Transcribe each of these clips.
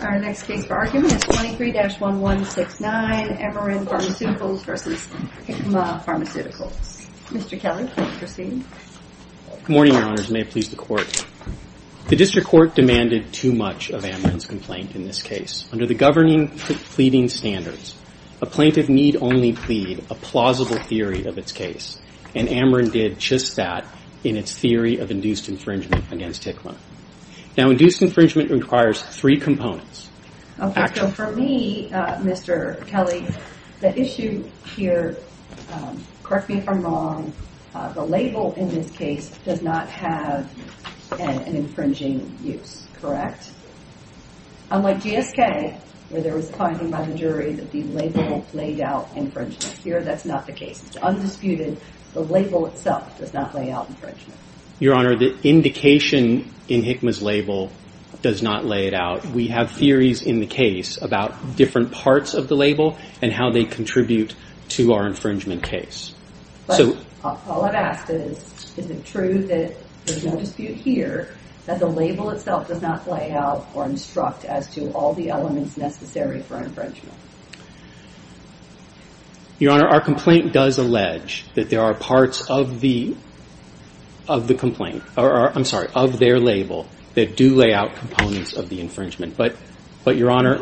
Our next case for argument is 23-1169, Amarin Pharmaceuticals v. Hikma Pharmaceuticals. Mr. Keller, please proceed. Good morning, Your Honors, and may it please the Court. The District Court demanded too much of Amarin's complaint in this case. Under the governing pleading standards, a plaintiff need only plead a plausible theory of its case, and Amarin did just that in its theory of induced infringement against Hikma. Now, induced infringement requires three components. For me, Mr. Kelly, the issue here, correct me if I'm wrong, the label in this case does not have an infringing use, correct? Unlike GSK, where there was a finding by the jury that the label laid out infringement. Here, that's not the case. It's undisputed. The label itself does not lay out infringement. Your Honor, the indication in Hikma's label does not lay it out. We have theories in the case about different parts of the label and how they contribute to our infringement case. But all I've asked is, is it true that there's no dispute here, that the label itself does not lay out or instruct as to all the elements necessary for infringement? Your Honor, our complaint does allege that there are parts of the complaint, I'm sorry, of their label, that do lay out components of the infringement. But, Your Honor,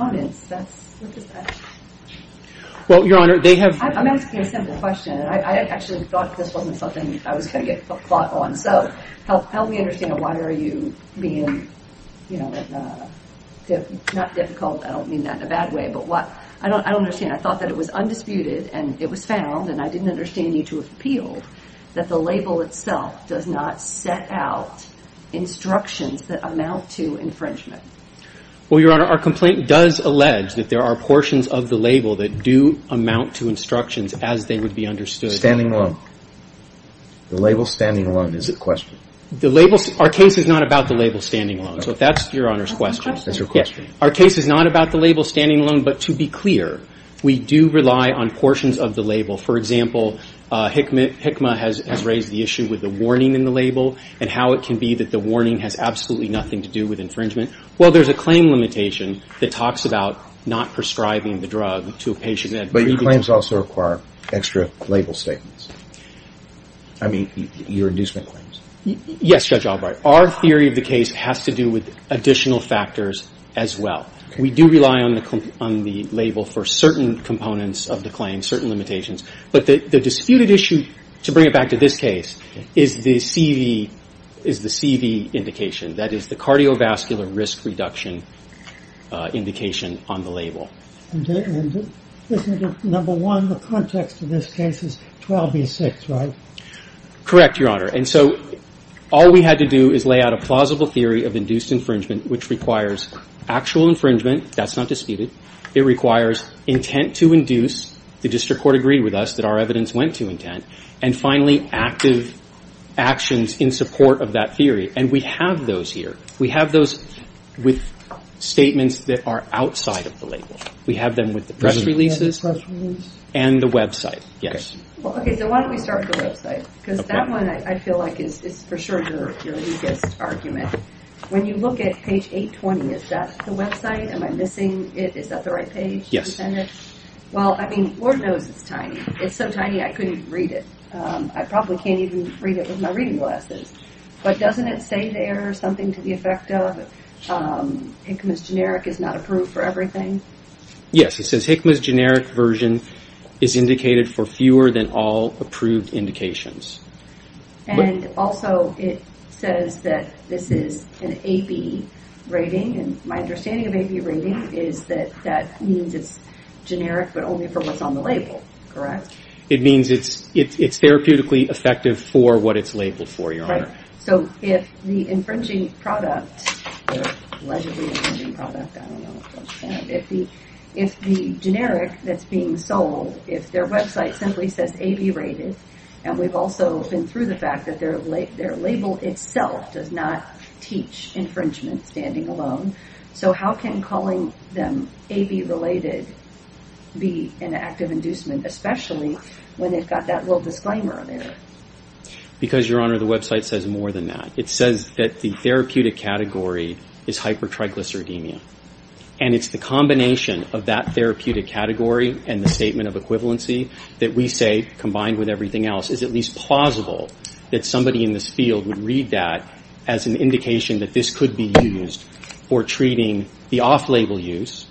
Well, Your Honor, they have I'm asking a simple question. I actually thought this wasn't something I was going to get caught on. So help me understand why are you being, you know, not difficult, I don't mean that in a bad way, but what, I don't understand. I thought that it was undisputed and it was found, and I didn't understand you to appeal, that the label itself does not set out instructions that amount to infringement. Well, Your Honor, our complaint does allege that there are portions of the label that do amount to instructions as they would be understood. Standing alone. The label standing alone is the question. The label, our case is not about the label standing alone. So that's Your Honor's question. That's your question. Our case is not about the label standing alone, but to be clear, we do rely on portions of the label. For example, HICMA has raised the issue with the warning in the label and how it can be that the warning has absolutely nothing to do with infringement. Well, there's a claim limitation that talks about not prescribing the drug to a patient. But your claims also require extra label statements. I mean, your inducement claims. Yes, Judge Albright. Our theory of the case has to do with additional factors as well. We do rely on the label for certain components of the claim, certain limitations. But the disputed issue, to bring it back to this case, is the CV indication. That is the cardiovascular risk reduction indication on the label. Number one, the context of this case is 12 v. 6, right? Correct, Your Honor. And so all we had to do is lay out a plausible theory of induced infringement, which requires actual infringement. That's not disputed. It requires intent to induce. The district court agreed with us that our evidence went to intent. And finally, active actions in support of that theory. And we have those here. We have those with statements that are outside of the label. We have them with the press releases and the website. Yes. Okay, so why don't we start with the website? Because that one I feel like is for sure your biggest argument. When you look at page 820, is that the website? Am I missing it? Is that the right page? Yes. Well, I mean, Lord knows it's tiny. It's so tiny I couldn't read it. I probably can't even read it with my reading glasses. But doesn't it say there something to the effect of Hickman's generic is not approved for everything? Yes. It says Hickman's generic version is indicated for fewer than all approved indications. And also it says that this is an AB rating. And my understanding of AB rating is that that means it's generic, but only for what's on the label, correct? It means it's therapeutically effective for what it's labeled for, Your Honor. So if the infringing product, allegedly infringing product, if the generic that's being sold, if their website simply says AB rated, and we've also been through the fact that their label itself does not teach infringement standing alone, so how can calling them AB related be an act of inducement, especially when they've got that little disclaimer on there? Because, Your Honor, the website says more than that. It says that the therapeutic category is hypertriglyceridemia. And it's the combination of that therapeutic category and the statement of equivalency that we say, combined with everything else, is at least plausible that somebody in this field would read that as an indication that this could be used for treating the off-label use,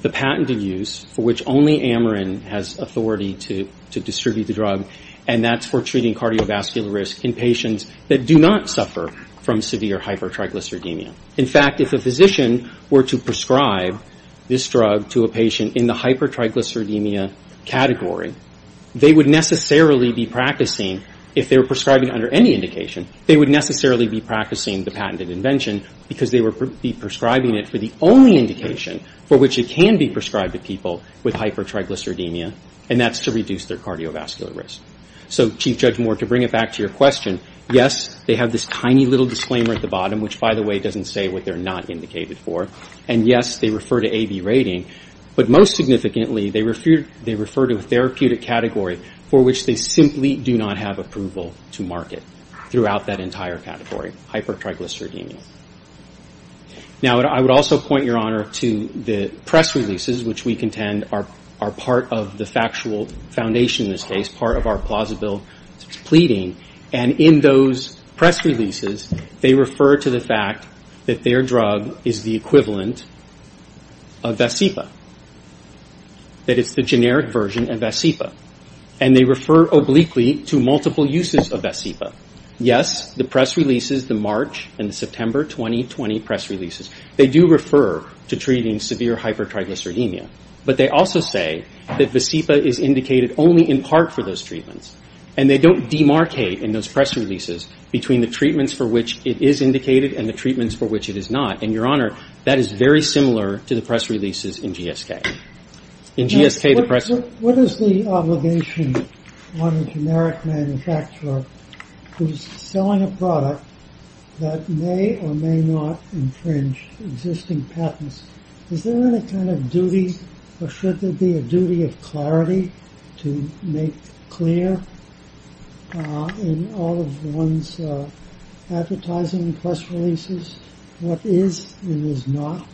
the patented use for which only Ameren has authority to distribute the drug, and that's for treating cardiovascular risk in patients that do not suffer from severe hypertriglyceridemia. In fact, if a physician were to prescribe this drug to a patient in the hypertriglyceridemia category, they would necessarily be practicing, if they were prescribing under any indication, they would necessarily be practicing the patented invention because they would be prescribing it for the only indication for which it can be prescribed to people with hypertriglyceridemia, and that's to reduce their cardiovascular risk. So, Chief Judge Moore, to bring it back to your question, yes, they have this tiny little disclaimer at the bottom, which, by the way, doesn't say what they're not indicated for, and yes, they refer to AB rating, but most significantly, they refer to a therapeutic category for which they simply do not have approval to market throughout that entire category, hypertriglyceridemia. Now, I would also point, Your Honor, to the press releases, which we contend are part of the factual foundation in this case, part of our plausible pleading, and in those press releases, they refer to the fact that their drug is the equivalent of Vasepa, that it's the generic version of Vasepa, and they refer obliquely to multiple uses of Vasepa. Yes, the press releases, the March and the September 2020 press releases, they do refer to treating severe hypertriglyceridemia, but they also say that Vasepa is indicated only in part for those treatments, and they don't demarcate in those press releases between the treatments for which it is indicated and the treatments for which it is not, and, Your Honor, that is very similar to the press releases in GSK. In GSK, the press – What is the obligation on a generic manufacturer who is selling a product that may or may not infringe existing patents? Is there any kind of duty, or should there be a duty of clarity to make clear in all of one's advertising press releases what is and is not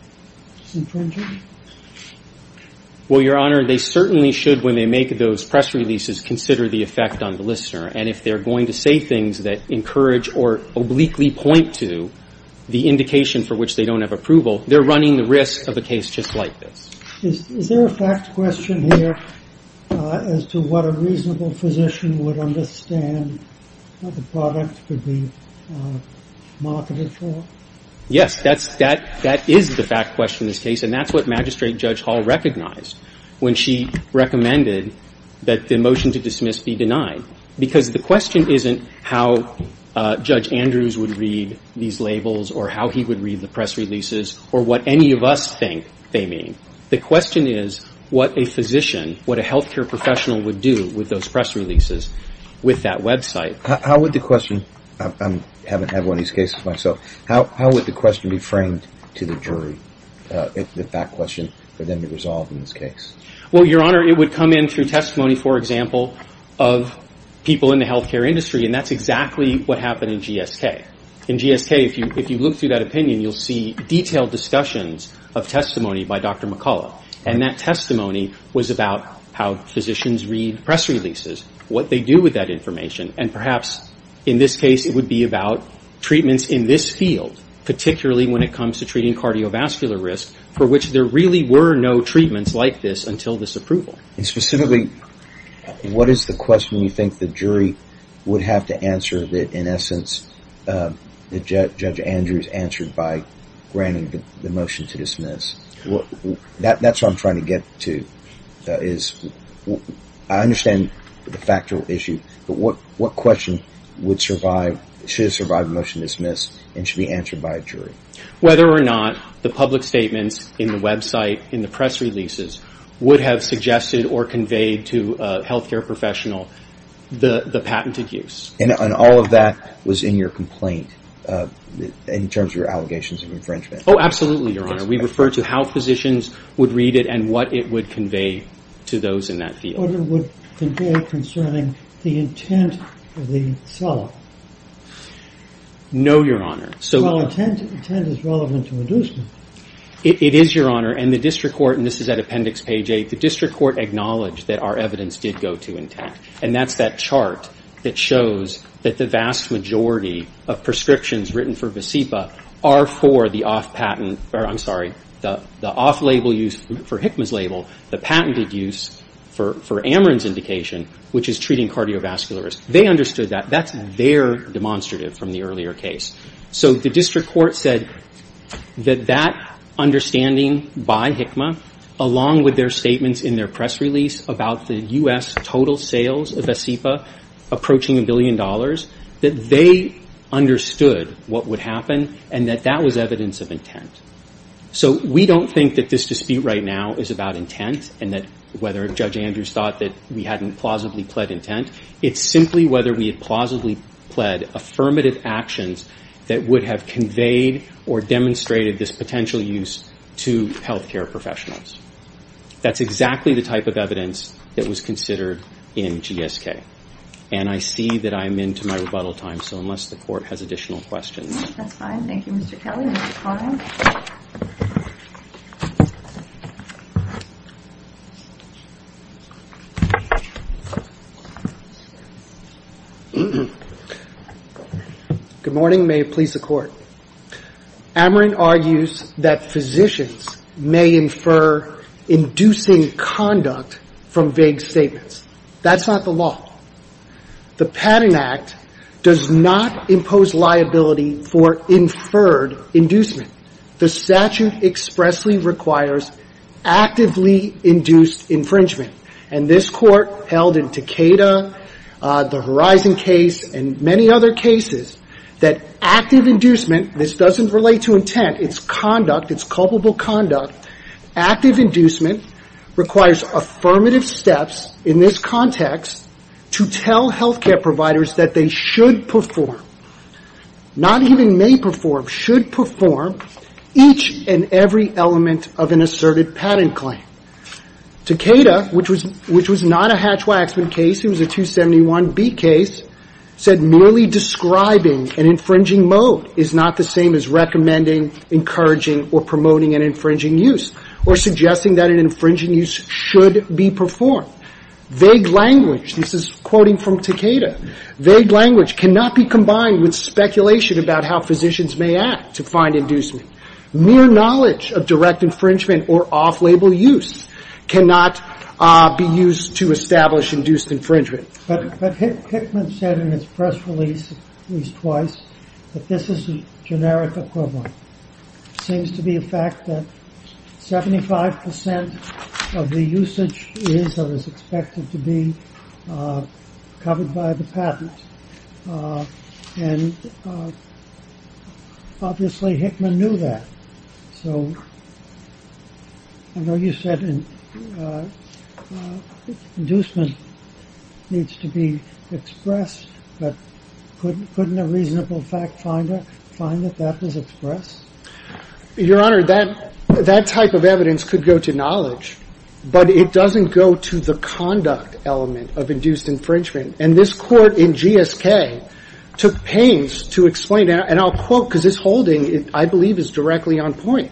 infringing? Well, Your Honor, they certainly should, when they make those press releases, consider the effect on the listener, and if they're going to say things that encourage or obliquely point to the indication for which they don't have approval, they're running the risk of a case just like this. Is there a fact question here as to what a reasonable physician would understand that the product could be marketed for? Yes, that is the fact question in this case, and that's what Magistrate Judge Hall recognized when she recommended that the motion to dismiss be denied because the question isn't how Judge Andrews would read these labels or how he would read the press releases or what any of us think they mean. The question is what a physician, what a health care professional would do with those press releases with that website. How would the question – I haven't had one of these cases myself – how would the question be framed to the jury, the fact question, for them to resolve in this case? Well, Your Honor, it would come in through testimony, for example, of people in the health care industry, and that's exactly what happened in GSK. In GSK, if you look through that opinion, you'll see detailed discussions of testimony by Dr. McCullough, and that testimony was about how physicians read press releases, what they do with that information, and perhaps in this case it would be about treatments in this field, particularly when it comes to treating cardiovascular risk, for which there really were no treatments like this until this approval. And specifically, what is the question you think the jury would have to answer that in essence Judge Andrews answered by granting the motion to dismiss? That's what I'm trying to get to. I understand the factual issue, but what question should have survived the motion to dismiss and should be answered by a jury? Whether or not the public statements in the website, in the press releases, would have suggested or conveyed to a health care professional the patented use. And all of that was in your complaint in terms of your allegations of infringement? Oh, absolutely, Your Honor. We referred to how physicians would read it and what it would convey to those in that field. What it would convey concerning the intent of the seller? No, Your Honor. Well, intent is relevant to inducement. It is, Your Honor, and the district court, and this is at Appendix Page 8, the district court acknowledged that our evidence did go to intent. And that's that chart that shows that the vast majority of prescriptions written for Vasipa are for the off patent, or I'm sorry, the off label used for Hikma's label, the patented use for Ameren's indication, which is treating cardiovascular risk. They understood that. That's their demonstrative from the earlier case. So the district court said that that understanding by Hikma, along with their statements in their press release about the U.S. total sales of Vasipa approaching a billion dollars, that they understood what would happen and that that was evidence of intent. So we don't think that this dispute right now is about intent and that whether Judge Andrews thought that we hadn't plausibly pled intent. It's simply whether we had plausibly pled affirmative actions that would have conveyed or demonstrated this potential use to health care professionals. That's exactly the type of evidence that was considered in GSK. And I see that I'm into my rebuttal time, so unless the court has additional questions. That's fine. Thank you, Mr. Kelly. Mr. Kline. Good morning. May it please the Court. Ameren argues that physicians may infer inducing conduct from vague statements. That's not the law. The Patent Act does not impose liability for inferred inducement. The statute expressly requires actively induced infringement. And this Court held in Takeda, the Horizon case, and many other cases, that active inducement, this doesn't relate to intent, it's conduct, it's culpable conduct. Active inducement requires affirmative steps in this context to tell health care providers that they should perform, not even may perform, should perform each and every element of an asserted patent claim. Takeda, which was not a Hatch-Waxman case, it was a 271B case, said merely describing an infringing mode is not the same as recommending, encouraging, or promoting an infringing use, or suggesting that an infringing use should be performed. Vague language, this is quoting from Takeda, vague language cannot be combined with speculation about how physicians may act to find inducement. Mere knowledge of direct infringement or off-label use cannot be used to establish induced infringement. But Hickman said in his press release, at least twice, that this is a generic equivalent. Seems to be a fact that 75% of the usage is or is expected to be covered by the patent. And obviously Hickman knew that. So I know you said inducement needs to be expressed, but couldn't a reasonable fact finder find that that was expressed? Your Honor, that type of evidence could go to knowledge, but it doesn't go to the conduct element of induced infringement. And this Court in GSK took pains to explain, and I'll quote because this holding, I believe, is directly on point.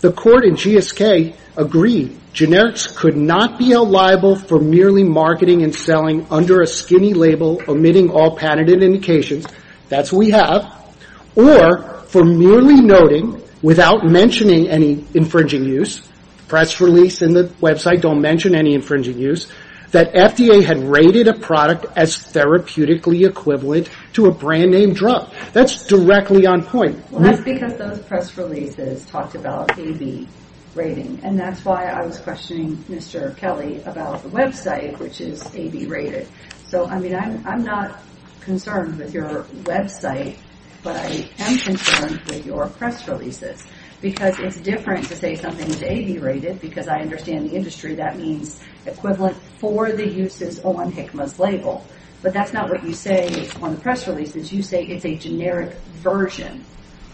The Court in GSK agreed, generics could not be liable for merely marketing and selling under a skinny label, omitting all patented indications, that's what we have, or for merely noting, without mentioning any infringing use, press release and the website don't mention any infringing use, that FDA had rated a product as therapeutically equivalent to a brand-name drug. That's directly on point. Well, that's because those press releases talked about A-B rating, and that's why I was questioning Mr. Kelly about the website, which is A-B rated. So, I mean, I'm not concerned with your website, but I am concerned with your press releases, because it's different to say something is A-B rated, because I understand the industry, that means equivalent for the uses on Hickman's label. But that's not what you say on the press releases. You say it's a generic version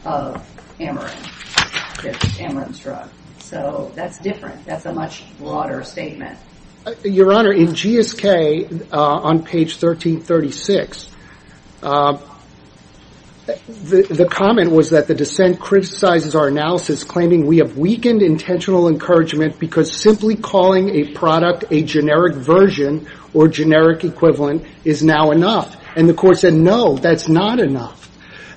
of Amarin, that's Amarin's drug. So that's different. That's a much broader statement. Your Honor, in GSK, on page 1336, the comment was that the dissent criticizes our analysis, claiming we have weakened intentional encouragement, because simply calling a product a generic version or generic equivalent is now enough. And the Court said, no, that's not enough.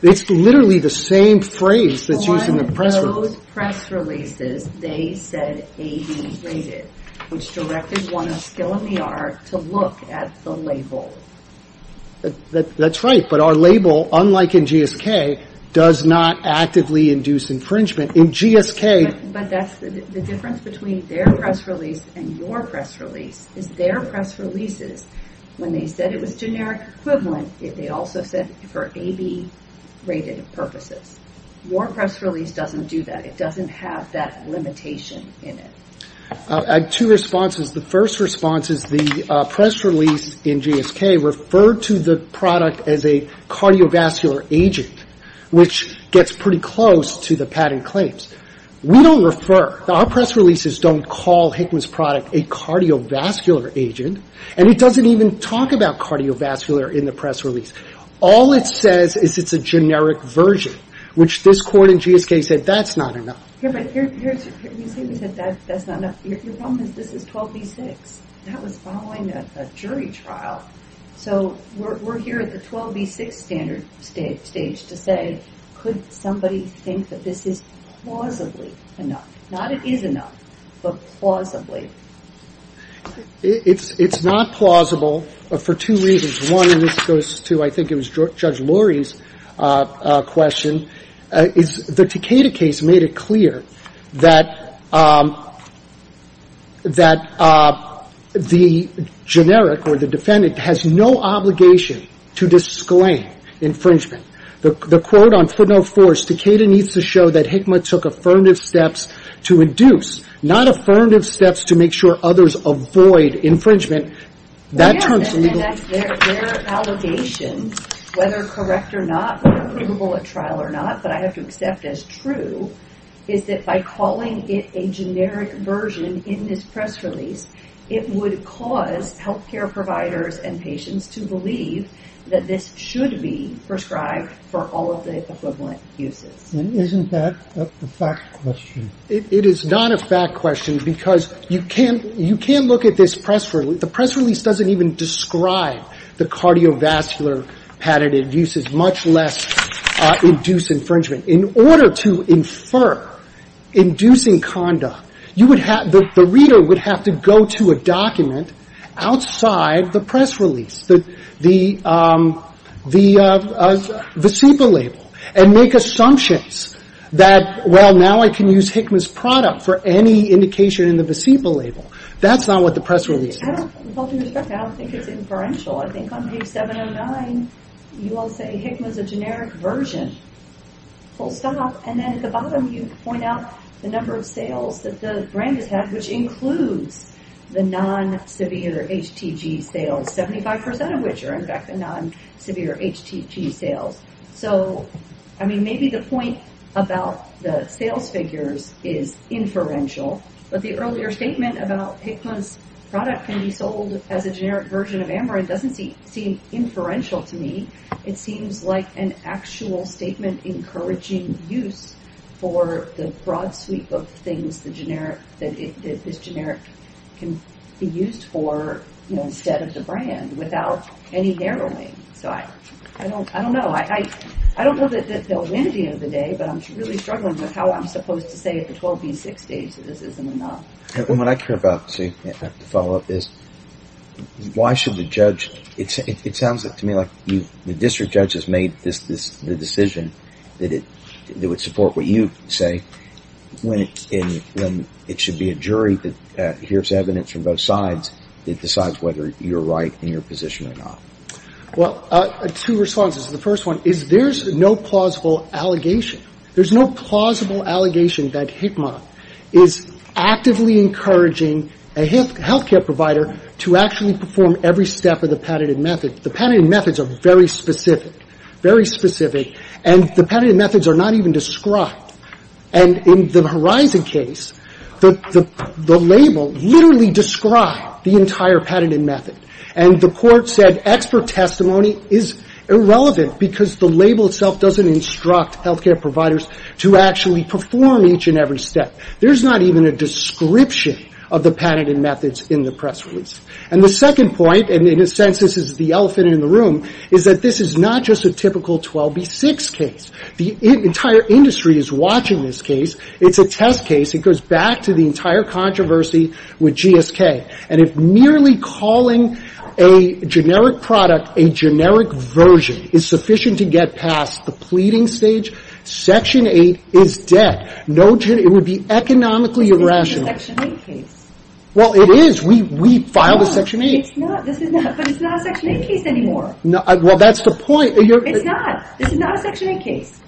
It's literally the same phrase that's used in the press release. On those press releases, they said A-B rated, which directed one of skill in the art to look at the label. That's right. But our label, unlike in GSK, does not actively induce infringement. But that's the difference between their press release and your press release, is their press releases, when they said it was generic equivalent, they also said for A-B rated purposes. Your press release doesn't do that. It doesn't have that limitation in it. I have two responses. The first response is the press release in GSK referred to the product as a cardiovascular agent, which gets pretty close to the patent claims. We don't refer. Our press releases don't call Hickman's product a cardiovascular agent, and it doesn't even talk about cardiovascular in the press release. All it says is it's a generic version, which this Court in GSK said, that's not enough. Yeah, but you say we said that's not enough. Your problem is this is 12B6. That was following a jury trial. So we're here at the 12B6 standard stage to say could somebody think that this is plausibly enough? Not it is enough, but plausibly. It's not plausible for two reasons. One, and this goes to I think it was Judge Lurie's question, the Takeda case made it clear that the generic or the defendant has no obligation to disclaim infringement. The quote on footnote four is Takeda needs to show that Hickman took affirmative steps to induce, not affirmative steps to make sure others avoid infringement. Their allegations, whether correct or not, or approvable at trial or not, but I have to accept as true, is that by calling it a generic version in this press release, it would cause health care providers and patients to believe that this should be prescribed for all of the equivalent uses. Isn't that a fact question? It is not a fact question because you can't look at this press release. The press release doesn't even describe the cardiovascular patented uses, much less induce infringement. In order to infer inducing conduct, you would have the reader would have to go to a document outside the press release, the VASIPA label, and make assumptions that, well, now I can use Hickman's product for any indication in the VASIPA label. That's not what the press release says. With all due respect, I don't think it's inferential. I think on page 709, you all say Hickman's a generic version. Full stop. And then at the bottom, you point out the number of sales that the brand has had, which includes the non-severe HTG sales, 75% of which are, in fact, the non-severe HTG sales. So, I mean, maybe the point about the sales figures is inferential, but the earlier statement about Hickman's product can be sold as a generic version of Amarin doesn't seem inferential to me. It seems like an actual statement encouraging use for the broad sweep of things that this generic can be used for instead of the brand without any narrowing. So, I don't know. I don't know that they'll win at the end of the day, but I'm really struggling with how I'm supposed to say at the 12B6 stage that this isn't enough. And what I care about, see, to follow up is why should the judge – it sounds to me like the district judge has made the decision that it would support what you say when it should be a jury that hears evidence from both sides that decides whether you're right in your position or not. Well, two responses. The first one is there's no plausible allegation. There's no plausible allegation that Hickman is actively encouraging a healthcare provider to actually perform every step of the patented method. The patented methods are very specific, very specific, and the patented methods are not even described. And in the Horizon case, the label literally described the entire patented method. And the court said expert testimony is irrelevant because the label itself doesn't instruct healthcare providers to actually perform each and every step. There's not even a description of the patented methods in the press release. And the second point, and in a sense this is the elephant in the room, is that this is not just a typical 12B6 case. The entire industry is watching this case. It's a test case. It goes back to the entire controversy with GSK. And if merely calling a generic product a generic version is sufficient to get past the pleading stage, Section 8 is dead. It would be economically irrational. It's not a Section 8 case. Well, it is. We filed a Section 8. But it's not a Section 8 case anymore. Well, that's the point. It's not. This is not a Section 8 case.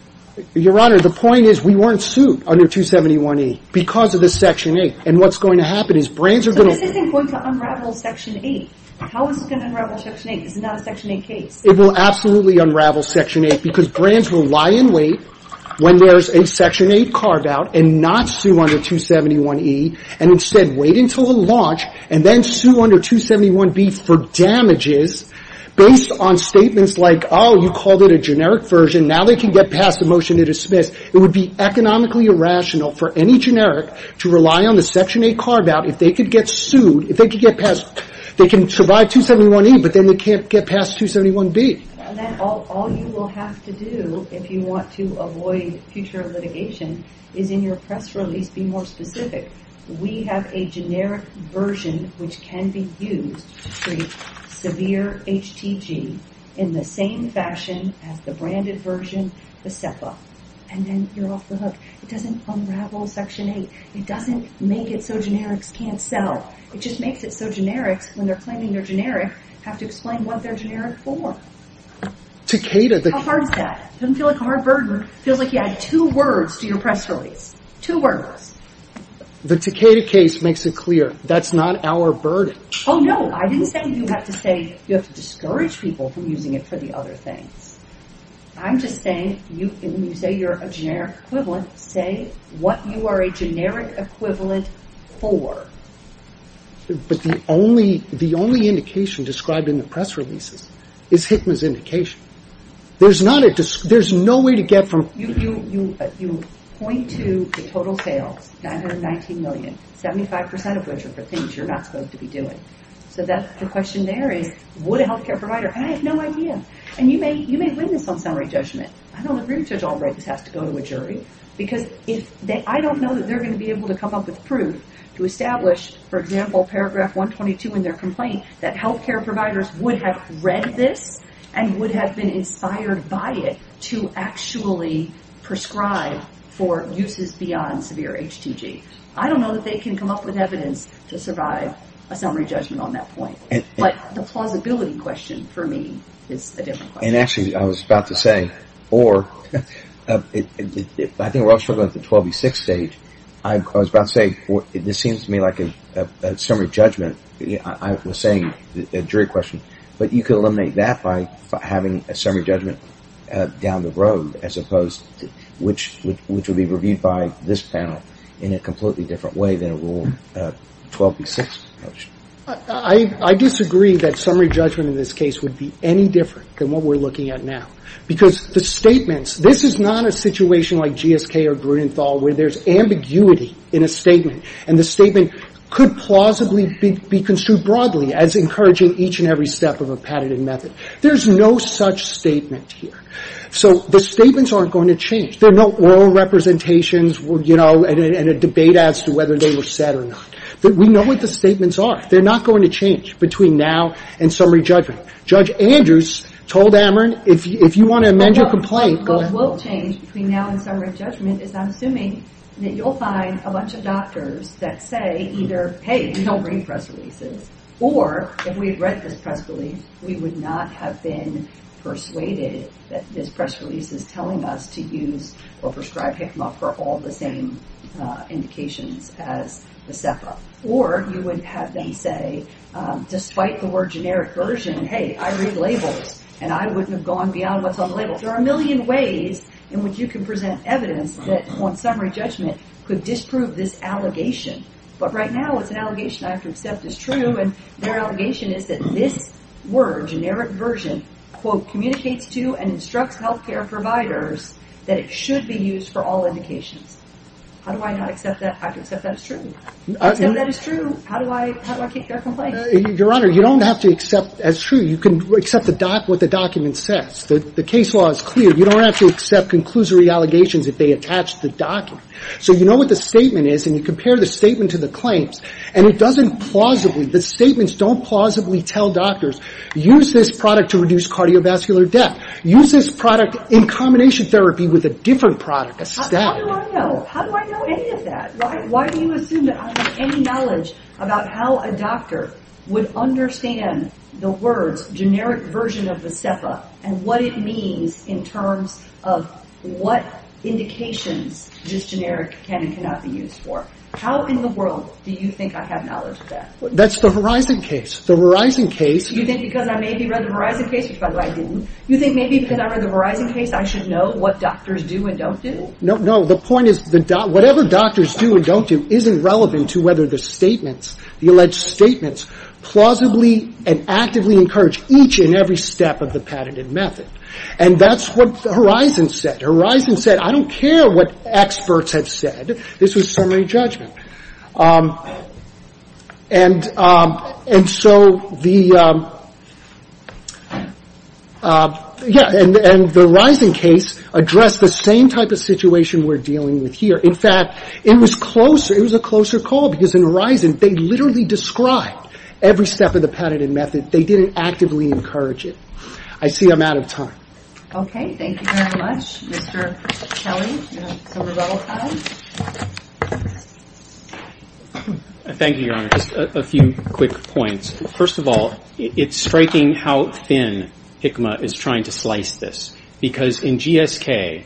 Your Honor, the point is we weren't sued under 271E because of the Section 8. And what's going to happen is brands are going to... So this isn't going to unravel Section 8. How is it going to unravel Section 8? This is not a Section 8 case. It will absolutely unravel Section 8 because brands will lie in wait when there's a Section 8 carve-out and not sue under 271E, and instead wait until the launch and then sue under 271B for damages based on statements like, oh, you called it a generic version, now they can get past the motion to dismiss. It would be economically irrational for any generic to rely on the Section 8 carve-out. If they could get sued, if they could get past, they can survive 271E, but then they can't get past 271B. All you will have to do if you want to avoid future litigation is in your press release be more specific. We have a generic version which can be used to treat severe HTG in the same fashion as the branded version, the SEPA. And then you're off the hook. It doesn't unravel Section 8. It doesn't make it so generics can't sell. It just makes it so generics, when they're claiming they're generic, have to explain what they're generic for. Takeda, the... How hard is that? It doesn't feel like a hard burden. It feels like you add two words to your press release. Two words. The Takeda case makes it clear that's not our burden. Oh, no. I didn't say you have to say you have to discourage people from using it for the other things. I'm just saying, when you say you're a generic equivalent, say what you are a generic equivalent for. But the only indication described in the press releases is HCMA's indication. There's no way to get from... You point to the total sales, 919 million, 75% of which are for things you're not supposed to be doing. So the question there is, would a health care provider... And I have no idea. And you may witness some summary judgment. I don't agree with Judge Albright this has to go to a jury. Because I don't know that they're going to be able to come up with proof to establish, for example, paragraph 122 in their complaint, that health care providers would have read this and would have been inspired by it to actually prescribe for uses beyond severe HTG. I don't know that they can come up with evidence to survive a summary judgment on that point. But the plausibility question for me is a different question. And actually, I was about to say, or I think we're all struggling with the 12B6 stage. I was about to say, this seems to me like a summary judgment. I was saying a jury question. But you could eliminate that by having a summary judgment down the road, as opposed to which would be reviewed by this panel in a completely different way than a rule 12B6. I disagree that summary judgment in this case would be any different than what we're looking at now. Because the statements, this is not a situation like GSK or Grunenthal where there's ambiguity in a statement. And the statement could plausibly be construed broadly as encouraging each and every step of a patented method. There's no such statement here. So the statements aren't going to change. There are no oral representations, you know, and a debate as to whether they were said or not. We know what the statements are. They're not going to change between now and summary judgment. Judge Andrews told Ameren, if you want to amend your complaint. What will change between now and summary judgment is I'm assuming that you'll find a bunch of doctors that say either, hey, we don't bring press releases, or if we had read this press release, we would not have been persuaded that this press release is telling us to use or prescribe Hikma for all the same indications as the SEPA. Or you would have them say, despite the word generic version, hey, I read labels. And I wouldn't have gone beyond what's on the labels. There are a million ways in which you can present evidence that on summary judgment could disprove this allegation. But right now it's an allegation I have to accept is true. And their allegation is that this word, generic version, quote, communicates to and instructs health care providers that it should be used for all indications. How do I not accept that? I can accept that as true. I can accept that as true. How do I keep that complaint? Your Honor, you don't have to accept as true. You can accept what the document says. The case law is clear. You don't have to accept conclusory allegations if they attach the document. So you know what the statement is, and you compare the statement to the claims, and it doesn't plausibly, the statements don't plausibly tell doctors, use this product to reduce cardiovascular death. Use this product in combination therapy with a different product, a static. How do I know? How do I know any of that? Why do you assume that I have any knowledge about how a doctor would understand the words, generic version of the SEFA and what it means in terms of what indications this generic can and cannot be used for? How in the world do you think I have knowledge of that? That's the Verizon case. The Verizon case. You think because I maybe read the Verizon case, which by the way I didn't, you think maybe because I read the Verizon case I should know what doctors do and don't do? No, no. The point is whatever doctors do and don't do isn't relevant to whether the statements, the alleged statements, plausibly and actively encourage each and every step of the patented method. And that's what Horizon said. Horizon said, I don't care what experts have said. This was summary judgment. And so the, yeah, and the Verizon case addressed the same type of situation we're dealing with here. In fact, it was closer, it was a closer call because in Horizon they literally described every step of the patented method. They didn't actively encourage it. I see I'm out of time. Okay. Thank you very much, Mr. Kelly. Thank you, Your Honor. Just a few quick points. First of all, it's striking how thin HCMA is trying to slice this because in GSK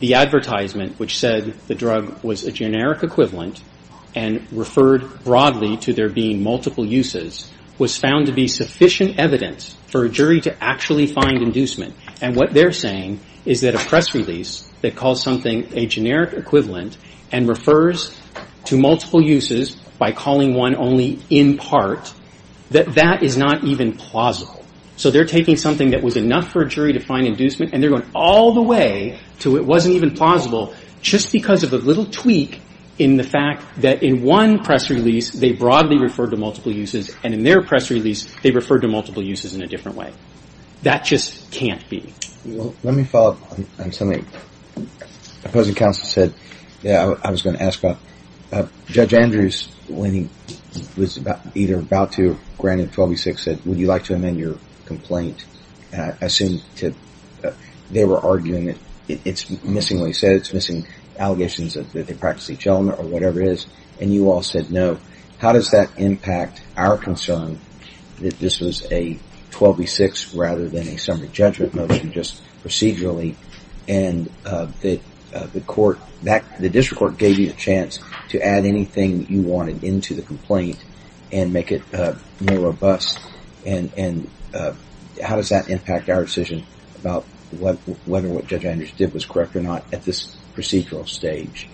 the advertisement which said the drug was a generic equivalent and referred broadly to there being multiple uses was found to be sufficient evidence for a jury to actually find inducement. And what they're saying is that a press release that calls something a generic equivalent and refers to multiple uses by calling one only in part, that that is not even plausible. So they're taking something that was enough for a jury to find inducement and they're going all the way to it wasn't even plausible just because of a little tweak in the fact that in one press release they broadly referred to multiple uses and in their press release they referred to multiple uses in a different way. That just can't be. Let me follow up on something the opposing counsel said that I was going to ask about. Judge Andrews, when he was either about to grant him 12 v. 6, said, would you like to amend your complaint? I assume they were arguing that it's missing what he said. It's missing allegations that they practice each element or whatever it is. And you all said no. How does that impact our concern that this was a 12 v. 6 rather than a summary judgment motion just procedurally and that the district court gave you a chance to add anything you wanted into the complaint and make it more robust? And how does that impact our decision about whether what Judge Andrews did was correct or not at this procedural stage?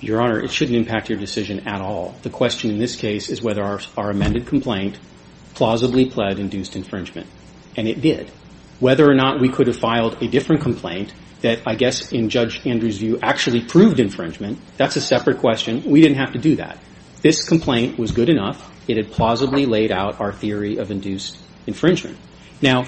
Your Honor, it shouldn't impact your decision at all. The question in this case is whether our amended complaint plausibly pled induced infringement. And it did. Whether or not we could have filed a different complaint that I guess in Judge Andrews' view actually proved infringement, that's a separate question. We didn't have to do that. This complaint was good enough. It had plausibly laid out our theory of induced infringement. Now,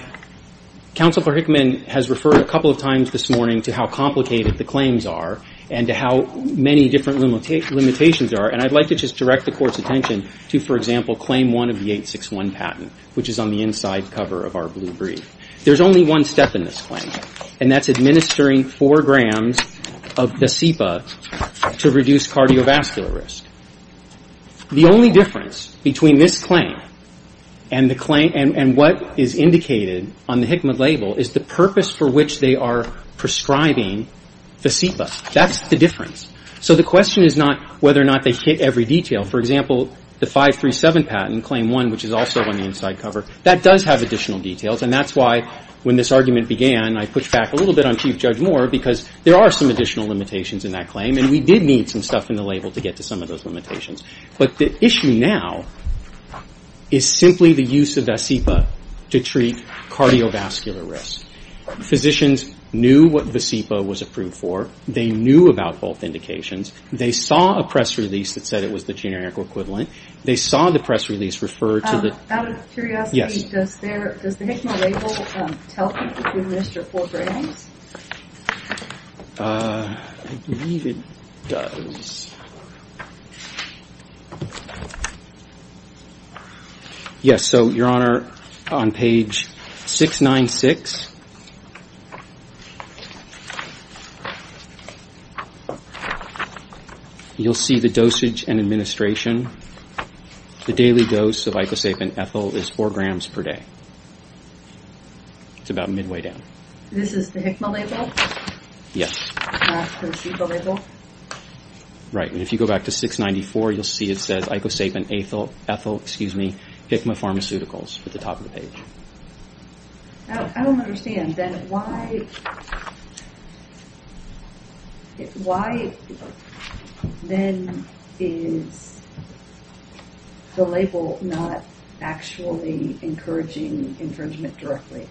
Counselor Hickman has referred a couple of times this morning to how complicated the claims are and to how many different limitations are. And I'd like to just direct the Court's attention to, for example, Claim 1 of the 861 patent, which is on the inside cover of our blue brief. There's only one step in this claim, and that's administering 4 grams of facepa to reduce cardiovascular risk. The only difference between this claim and what is indicated on the Hickman label is the purpose for which they are prescribing facepa. That's the difference. So the question is not whether or not they hit every detail. For example, the 537 patent, Claim 1, which is also on the inside cover, that does have additional details. And that's why, when this argument began, I pushed back a little bit on Chief Judge Moore because there are some additional limitations in that claim, and we did need some stuff in the label to get to some of those limitations. But the issue now is simply the use of facepa to treat cardiovascular risk. Physicians knew what facepa was approved for. They knew about both indications. They saw a press release that said it was the generic equivalent. They saw the press release refer to the— Out of curiosity, does the Hickman label tell people to administer 4 grams? I believe it does. Yes, so, Your Honor, on page 696. You'll see the dosage and administration. The daily dose of icosapen ethyl is 4 grams per day. It's about midway down. This is the Hickman label? Yes. Not the placebo label? Right, and if you go back to 694, you'll see it says, icosapen ethyl, excuse me, Hickman Pharmaceuticals at the top of the page. I don't understand, then. Why then is the label not actually encouraging infringement directly?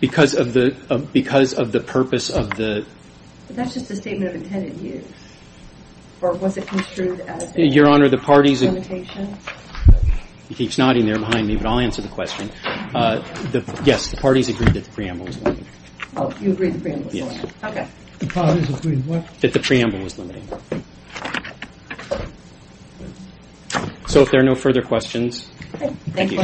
Because of the purpose of the— That's just the statement of intent it used. Or was it construed as a limitation? Your Honor, the parties— Excuse me, but I'll answer the question. Yes, the parties agreed that the preamble was limited. Oh, you agreed the preamble was limited. Yes. Okay. The parties agreed what? That the preamble was limited. So if there are no further questions, thank you.